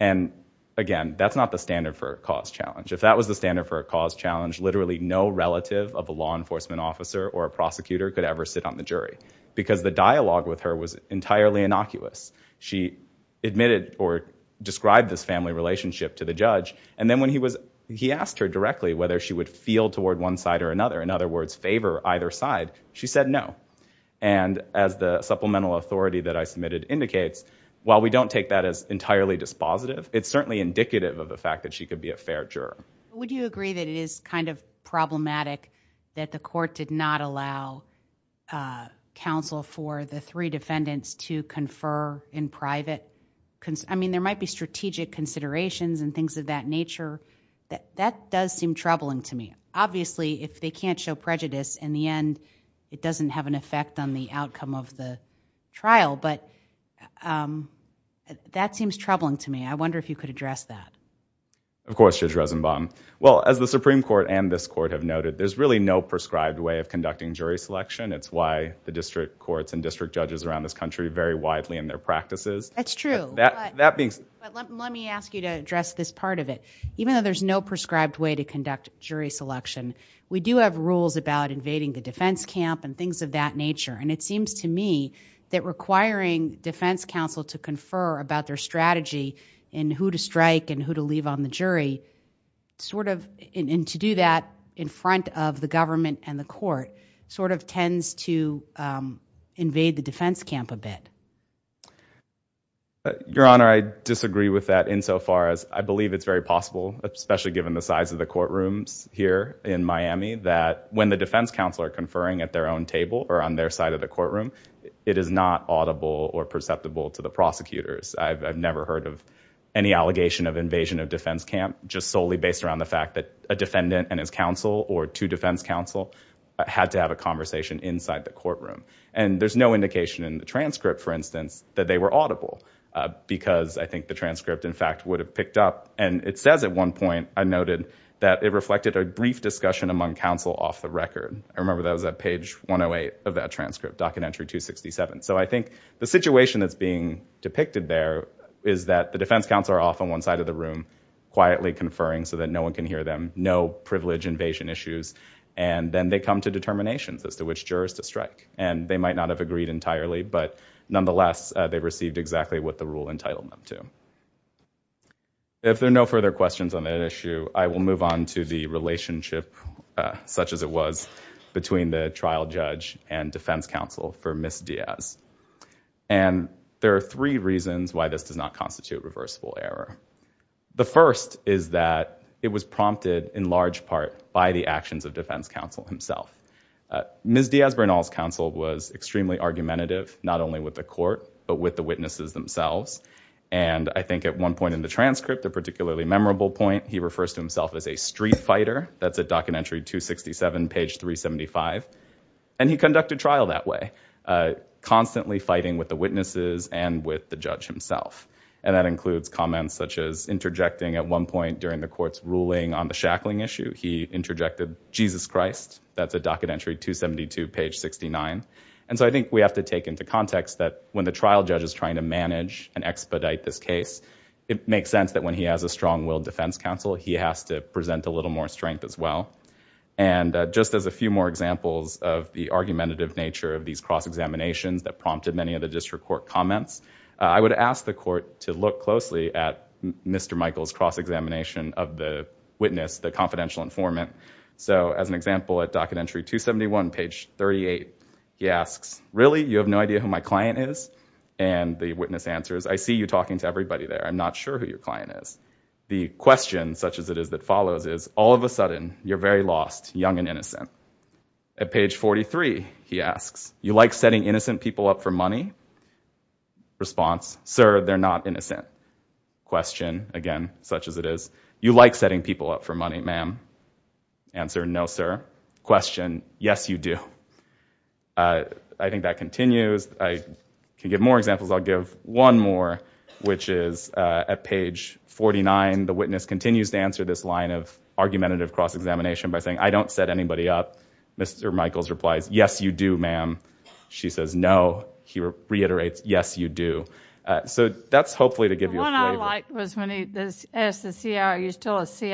And again, that's not the standard for a cause challenge. If that was the standard for a cause challenge, literally no relative of a law enforcement officer or a prosecutor could ever sit on the jury because the dialogue with her was entirely innocuous. She admitted or described this family relationship to the judge. And then when he asked her directly whether she would feel toward one side or another, in other words, favor either side, she said no. And as the supplemental authority that I submitted indicates, while we don't take that as entirely dispositive, it's certainly indicative of the fact that she could be a fair juror. Would you agree that it is kind of problematic that the court did not allow counsel for the three defendants to confer in private? I mean, there might be strategic considerations and things of that nature. That does seem troubling to me. Obviously, if they can't show prejudice in the end, it doesn't have an effect on the outcome of the trial. But that seems troubling to me. I wonder if you could address that. Of course, Judge Rosenbaum. Well, as the Supreme Court and this court have noted, there's really no prescribed way of conducting jury selection. It's why the district courts and district judges around this country vary widely in their practices. That's true. Let me ask you to address this part of it. Even though there's no prescribed way to conduct jury selection, we do have rules about invading the defense camp and things of that nature. And it seems to me that requiring defense counsel to confer about their strategy in who to strike and who to leave on the jury, and to do that in front of the government and the court, sort of tends to invade the defense camp a bit. Your Honor, I disagree with that insofar as I believe it's very possible, especially given the size of the courtrooms here in Miami, that when the defense counsel are conferring at their own table or on their side of the courtroom, it is not audible or perceptible to the prosecutors. I've never heard of any allegation of invasion of defense camp, just solely based around the fact that a defendant and his counsel or two defense counsel had to have a conversation inside the courtroom. And there's no indication in the transcript, for instance, that they were audible, because I think the transcript, in fact, would have picked up. And it says at one point, I noted, that it reflected a brief discussion among counsel off the record. I remember that was at page 108 of that transcript, documentary 267. So I think the situation that's being depicted there is that the defense counsel are off on one side of the room, quietly conferring so that no one can hear them, no privilege invasion issues, and then they come to determinations as to which jurors to strike. And they might not have agreed entirely, but nonetheless, they received exactly what the rule entitled them to. If there are no further questions on that issue, I will move on to the relationship, such as it was, between the trial judge and defense counsel for Ms. Diaz. And there are three reasons why this does not constitute reversible error. The first is that it was prompted, in large part, by the actions of defense counsel himself. Ms. Diaz Bernal's counsel was extremely argumentative, not only with the court, but with the witnesses themselves. And I think at one point in the transcript, a particularly memorable point, he refers to himself as a street fighter. That's at documentary 267, page 375. And he conducted trial that way, constantly fighting with the witnesses and with the judge himself. And that includes comments such as interjecting at one point during the court's ruling on the shackling issue. He interjected, Jesus Christ. That's at documentary 272, page 69. And so I think we have to take into context that when the trial judge is trying to manage and expedite this case, it makes sense that when he has a strong-willed defense counsel, he has to present a little more strength as well. And just as a few more examples of the argumentative nature of these cross-examinations that prompted many of the district court comments, I would ask the court to look closely at Mr. Michael's cross-examination of the witness, the confidential informant. So as an example, at documentary 271, page 38, he asks, really? You have no idea who my client is? And the witness answers, I see you talking to everybody there. I'm not sure who your client is. The question, such as it is, that follows is, all of a sudden, you're very lost, young and innocent. At page 43, he asks, you like setting innocent people up for money? Response, sir, they're not innocent. Question, again, such as it is, you like setting people up for money, ma'am? Answer, no, sir. Question, yes, you do. I think that continues. I can give more examples. I'll give one more, which is at page 49. The witness continues to answer this line of argumentative cross-examination by saying, I don't set anybody up. Mr. Michaels replies, yes, you do, ma'am. She says, no. He reiterates, yes, you do. So that's hopefully to give you a flavor. The one I like was when he asked the CI, are you still a CI?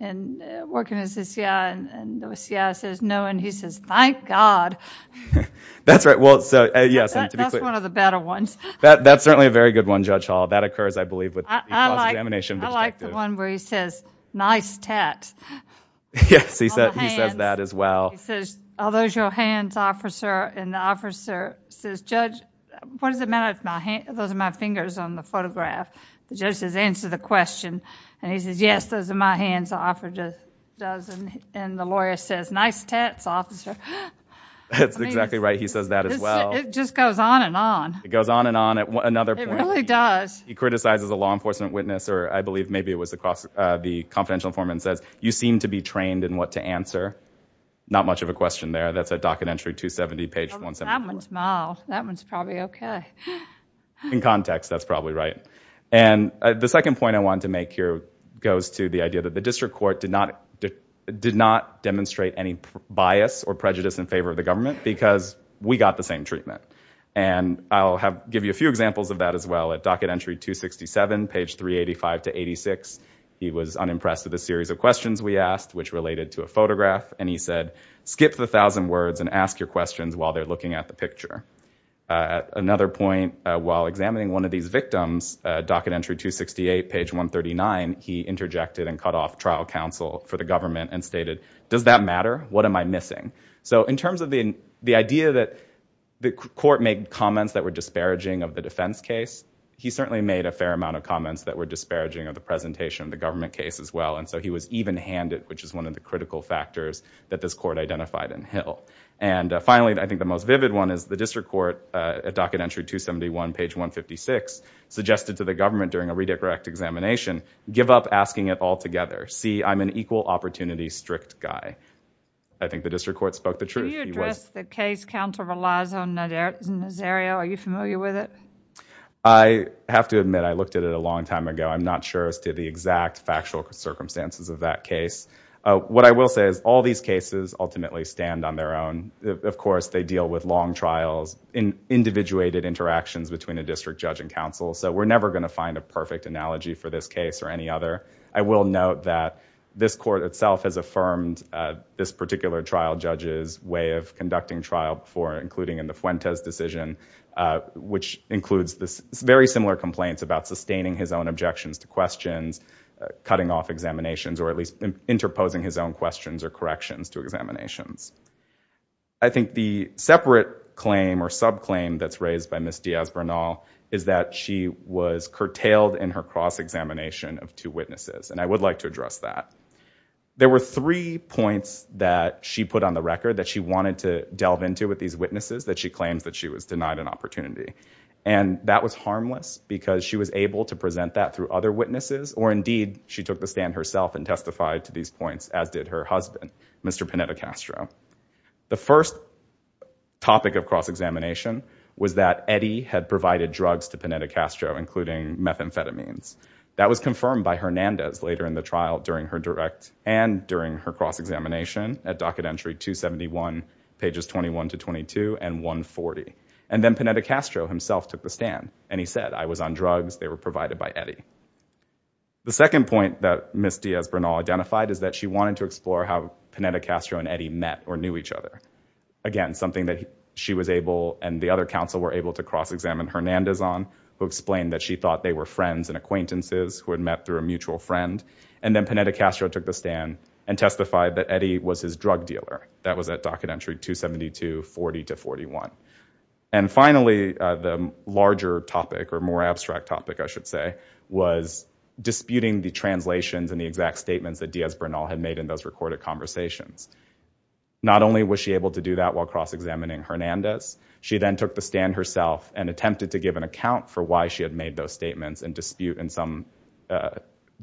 And working as a CI, and the CI says, no. And he says, thank God. That's right. Well, so, yes. That's one of the better ones. That's certainly a very good one, Judge Hall. That occurs, I believe, with the cross-examination perspective. I like the one where he says, nice tat. Yes, he says that as well. He says, are those your hands, officer? And the officer says, Judge, what does it matter if those are my fingers on the photograph? The judge says, answer the question. And he says, yes, those are my hands, the officer does. And the lawyer says, nice tats, officer. That's exactly right. He says that as well. It just goes on and on. It goes on and on at another point. It really does. He criticizes a law enforcement witness, or I believe maybe it was the confidential informant, and says, you seem to be trained in what to answer. Not much of a question there. That's at docket entry 270, page 174. That one's mild. That one's probably OK. In context, that's probably right. And the second point I wanted to make here goes to the idea that the district court did not demonstrate any bias or prejudice in favor of the government because we got the same treatment. And I'll give you a few examples of that as well at docket entry 267, page 385 to 86. He was unimpressed with a series of questions we asked, which related to a photograph. And he said, skip the 1,000 words and ask your questions while they're looking at the picture. At another point, while examining one of these victims, docket entry 268, page 139, he interjected and cut off trial counsel for the government and stated, does that matter? What am I missing? So in terms of the idea that the court made comments that were disparaging of the defense case, he certainly made a fair amount of comments that were disparaging of the presentation of the government case as well. And so he was even-handed, which is one of the critical factors that this court identified in Hill. And finally, I think the most vivid one is the district court at docket entry 271, page 156, suggested to the government during a redirect examination, give up asking it all together. See, I'm an equal opportunity strict guy. I think the district court spoke the truth. Do you address the case count of Eliza Nazario? Are you familiar with it? I have to admit, I looked at it a long time ago. I'm not sure as to the exact factual circumstances of that case. What I will say is all these cases ultimately stand on their own. Of course, they deal with long trials in individuated interactions between a district judge and counsel. So we're never going to find a perfect analogy for this case or any other. I will note that this court itself has affirmed this particular trial judge's way of conducting trial before, including in the Fuentes decision, which includes very similar complaints about sustaining his own objections to questions, cutting off examinations, or at least interposing his own questions or corrections to examinations. I think the separate claim or subclaim that's raised by Ms. Diaz-Bernal is that she was curtailed in her cross-examination of two witnesses. And I would like to address that. There were three points that she put on the record that she wanted to delve into with these witnesses that she claims that she was denied an opportunity. And that was harmless because she was able to present that through other witnesses, or indeed, she took the stand herself and testified to these points, as did her husband, Mr. Panetta-Castro. The first topic of cross-examination was that Eddie had provided drugs to Panetta-Castro, including methamphetamines. That was confirmed by Hernandez later in the trial and during her cross-examination at docket entry 271, pages 21 to 22, and 140. And then Panetta-Castro himself took the stand. And he said, I was on drugs. They were provided by Eddie. The second point that Ms. Diaz-Bernal identified is that she wanted to explore how Panetta-Castro and Eddie met or knew each other. Again, something that she was able and the other counsel were able to cross-examine Hernandez who explained that she thought they were friends and acquaintances who had met through a mutual friend. And then Panetta-Castro took the stand and testified that Eddie was his drug dealer. That was at docket entry 272, 40 to 41. And finally, the larger topic or more abstract topic, I should say, was disputing the translations and the exact statements that Diaz-Bernal had made in those recorded conversations. Not only was she able to do that while cross-examining Hernandez, she then took the stand and attempted to give an account for why she had made those statements and dispute in some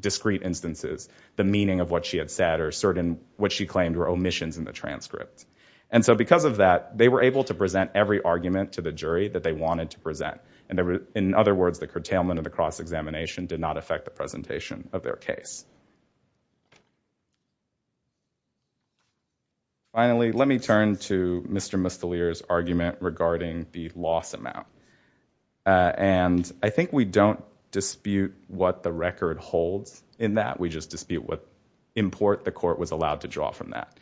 discrete instances the meaning of what she had said or certain what she claimed were omissions in the transcript. And so because of that, they were able to present every argument to the jury that they wanted to present. And in other words, the curtailment of the cross-examination did not affect the presentation of their case. Finally, let me turn to Mr. Mustalier's argument regarding the loss amount. And I think we don't dispute what the record holds in that. We just dispute what import the court was allowed to draw from that.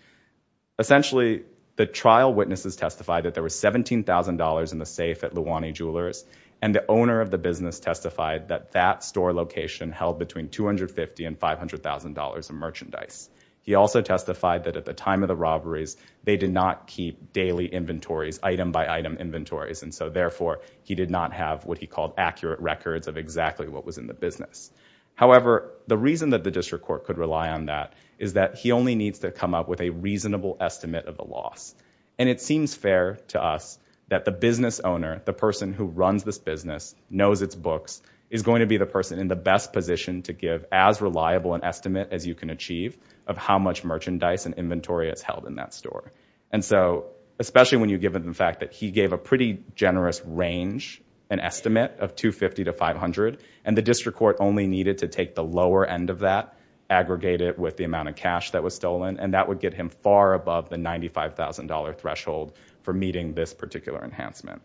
Essentially, the trial witnesses testified that there was $17,000 in the safe at Luwani Jewelers and the owner of the business testified that that store location held between $250 and $500. of merchandise. He also testified that at the time of the robberies, they did not keep daily inventories, item by item inventories. And so therefore, he did not have what he called accurate records of exactly what was in the business. However, the reason that the district court could rely on that is that he only needs to come up with a reasonable estimate of the loss. And it seems fair to us that the business owner, the person who runs this business, knows its books, is going to be the person in the best position to give as reliable an estimate as you can achieve of how much merchandise and inventory is held in that store. And so, especially when you give it the fact that he gave a pretty generous range, an estimate of $250 to $500, and the district court only needed to take the lower end of that, aggregate it with the amount of cash that was stolen, and that would get him far above the $95,000 threshold for meeting this particular enhancement.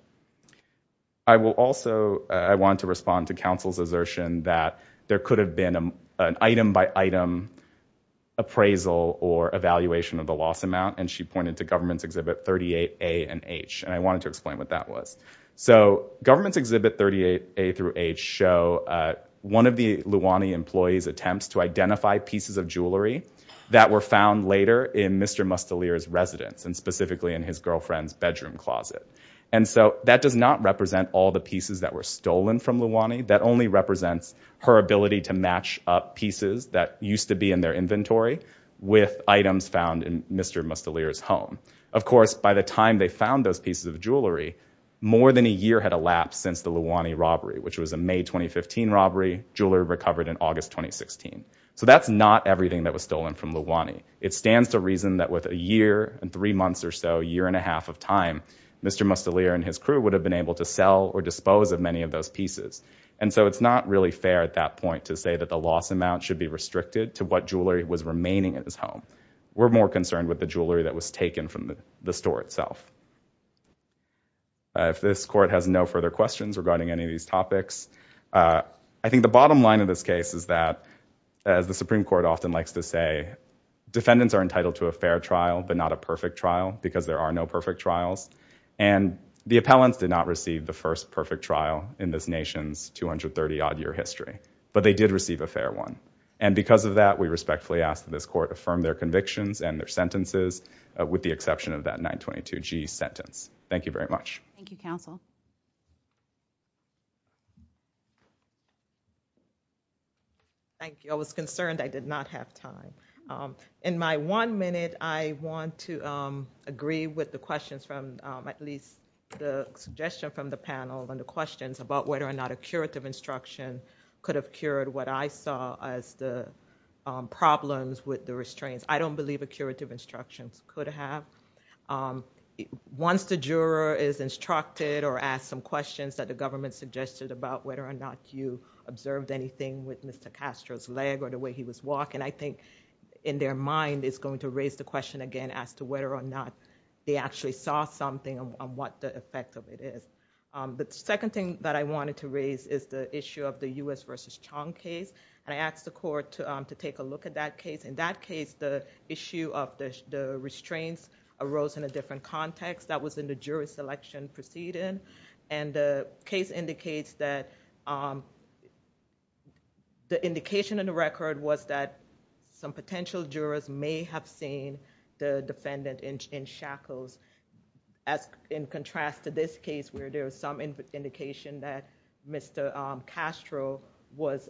I will also, I want to respond to counsel's assertion that there could have been an item by item appraisal or evaluation of the loss amount, and she pointed to Government's Exhibit 38A and H, and I wanted to explain what that was. So, Government's Exhibit 38A through H show one of the Luwani employee's attempts to identify pieces of jewelry that were found later in Mr. Mustelier's residence, and specifically in his girlfriend's bedroom closet. And so, that does not represent all the pieces that were stolen from Luwani. That only represents her ability to match up pieces that used to be in their inventory with items found in Mr. Mustelier's home. Of course, by the time they found those pieces of jewelry, more than a year had elapsed since the Luwani robbery, which was a May 2015 robbery. Jewelry recovered in August 2016. So, that's not everything that was stolen from Luwani. It stands to reason that with a year and three months or so, year and a half of time, Mr. Mustelier and his crew would have been able to sell or dispose of many of those pieces. And so, it's not really fair at that point to say that the loss amount should be restricted to what jewelry was remaining at his home. We're more concerned with the jewelry that was taken from the store itself. If this court has no further questions regarding any of these topics, I think the bottom line of this case is that, as the Supreme Court often likes to say, defendants are entitled to a fair trial, but not a perfect trial, because there are no perfect trials. And the appellants did not receive the first perfect trial in this nation's 230-odd year history, but they did receive a fair one. And because of that, we respectfully ask that this court affirm their convictions and their sentences, with the exception of that 922G sentence. Thank you very much. Thank you, counsel. Thank you. I was concerned I did not have time. In my one minute, I want to agree with the questions from, at least the suggestion from the panel and the questions about whether or not a curative instruction could have cured what I saw as the problems with the restraints. I don't believe a curative instruction could have. Once the juror is instructed or asked some questions that the government suggested about whether or not you observed anything with Mr. Castro's leg or the way he was walking, I think in their mind is going to raise the question again as to whether or not they actually saw something and what the effect of it is. The second thing that I wanted to raise is the issue of the U.S. versus Chong case. And I asked the court to take a look at that case. In that case, the issue of the restraints arose in a different context. That was in the jury selection proceeding. And the case indicates that the indication in the record was that some potential jurors may have seen the defendant in shackles in contrast to this case where there was some indication that Mr. Castro was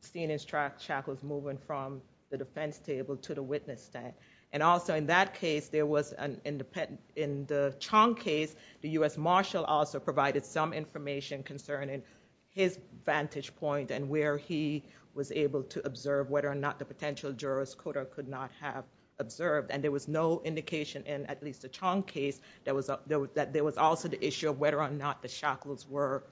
seen in shackles moving from the defense table to the witness stand. And also in that case, in the Chong case, the U.S. marshal also provided some information concerning his vantage point and where he was able to observe whether or not the potential jurors could or could not have observed. And there was no indication in at least the Chong case that there was also the issue of whether or not the shackles were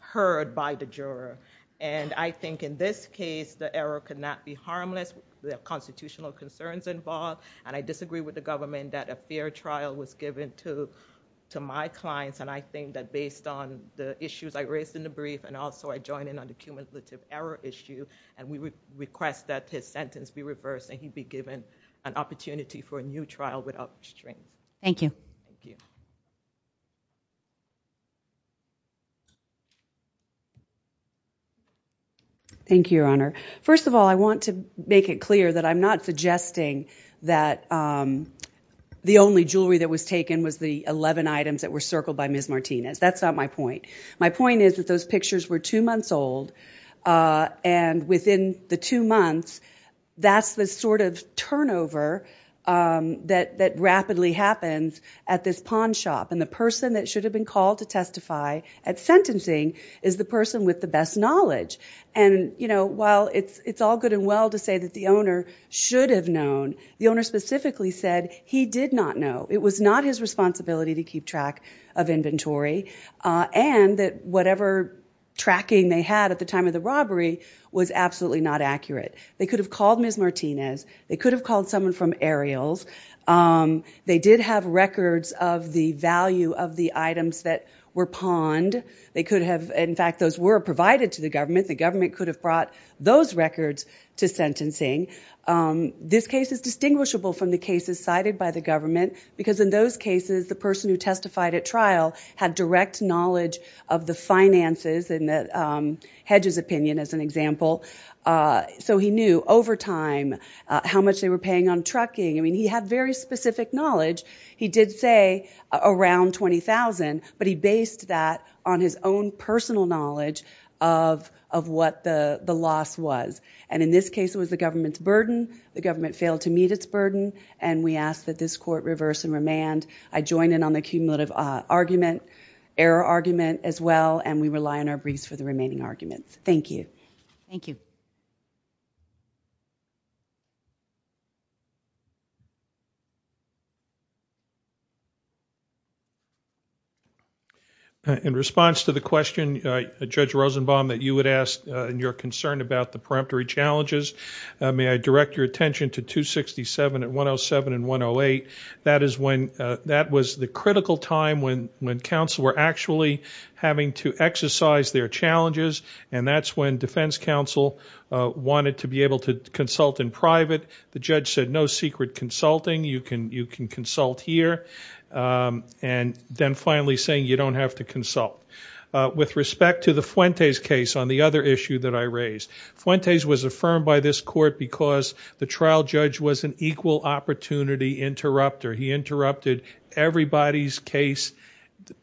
heard by the juror. And I think in this case, the error could not be harmless. There are constitutional concerns involved. And I disagree with the government that a fair trial was given to my clients. And I think that based on the issues I raised in the brief and also I join in on the cumulative error issue, and we request that his sentence be reversed and he be given an opportunity for a new trial without restraint. Thank you. Thank you, Your Honor. First of all, I want to make it clear that I'm not suggesting that the only jewelry that was taken was the 11 items that were circled by Ms. Martinez. That's not my point. My point is that those pictures were two months old. And within the two months, that's the sort of turnover that rapidly happens at this pawn shop. And the person that should have been called to testify at sentencing is the person with the best knowledge. And while it's all good and well to say that the owner should have known, the owner specifically said he did not know. It was not his responsibility to keep track of inventory. And that whatever tracking they had at the time of the robbery was absolutely not accurate. They could have called Ms. Martinez. They could have called someone from Ariel's. They did have records of the value of the items that were pawned. They could have, in fact, those were provided to the government. The government could have brought those records to sentencing. This case is distinguishable from the cases cited by the government because in those cases, the person who testified at trial had direct knowledge of the finances in Hedge's opinion, as an example. So he knew over time how much they were paying on trucking. I mean, he had very specific knowledge. He did say around $20,000, but he based that on his own personal knowledge of what the loss was. And in this case, it was the government's burden. The government failed to meet its burden. And we ask that this court reverse and remand. I join in on the cumulative argument, error argument, as well. And we rely on our briefs for the remaining arguments. Thank you. Thank you. In response to the question, Judge Rosenbaum, that you had asked in your concern about the preemptory challenges, may I direct your attention to 267 and 107 and 108. That was the critical time when counsel were actually having to exercise their challenges. And that's when defense counsel wanted to be able to consult in private. The judge said, no secret consulting. You can consult here. And then finally saying, you don't have to consult. With respect to the Fuentes case on the other issue that I raised, Fuentes was affirmed by this court because the trial judge was an equal opportunity interrupter. He interrupted everybody's case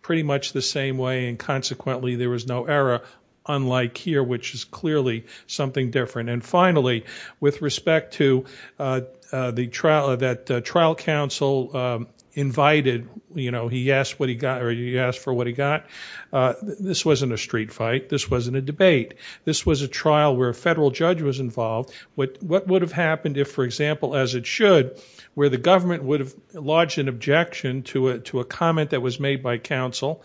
pretty much the same way. And consequently, there was no error, unlike here, which is clearly something different. And finally, with respect to that trial counsel invited, he asked for what he got. This wasn't a street fight. This wasn't a debate. This was a trial where a federal judge was involved. What would have happened if, for example, as it should, where the government would have lodged an objection to a comment that was made by counsel,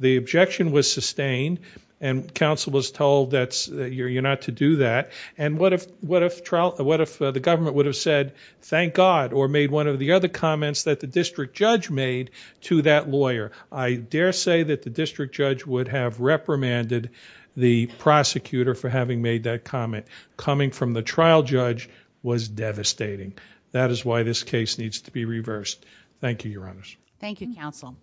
the objection was sustained, and counsel was told that you're not to do that. And what if the government would have said, thank God, or made one of the other comments that the district judge made to that lawyer? I dare say that the district judge would have reprimanded the prosecutor for having made that comment. Coming from the trial judge was devastating. That is why this case needs to be reversed. Thank you, Your Honors. Thank you, counsel.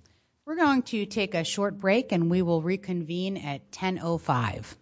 We're going to take a short break, and we will reconvene at 10.05.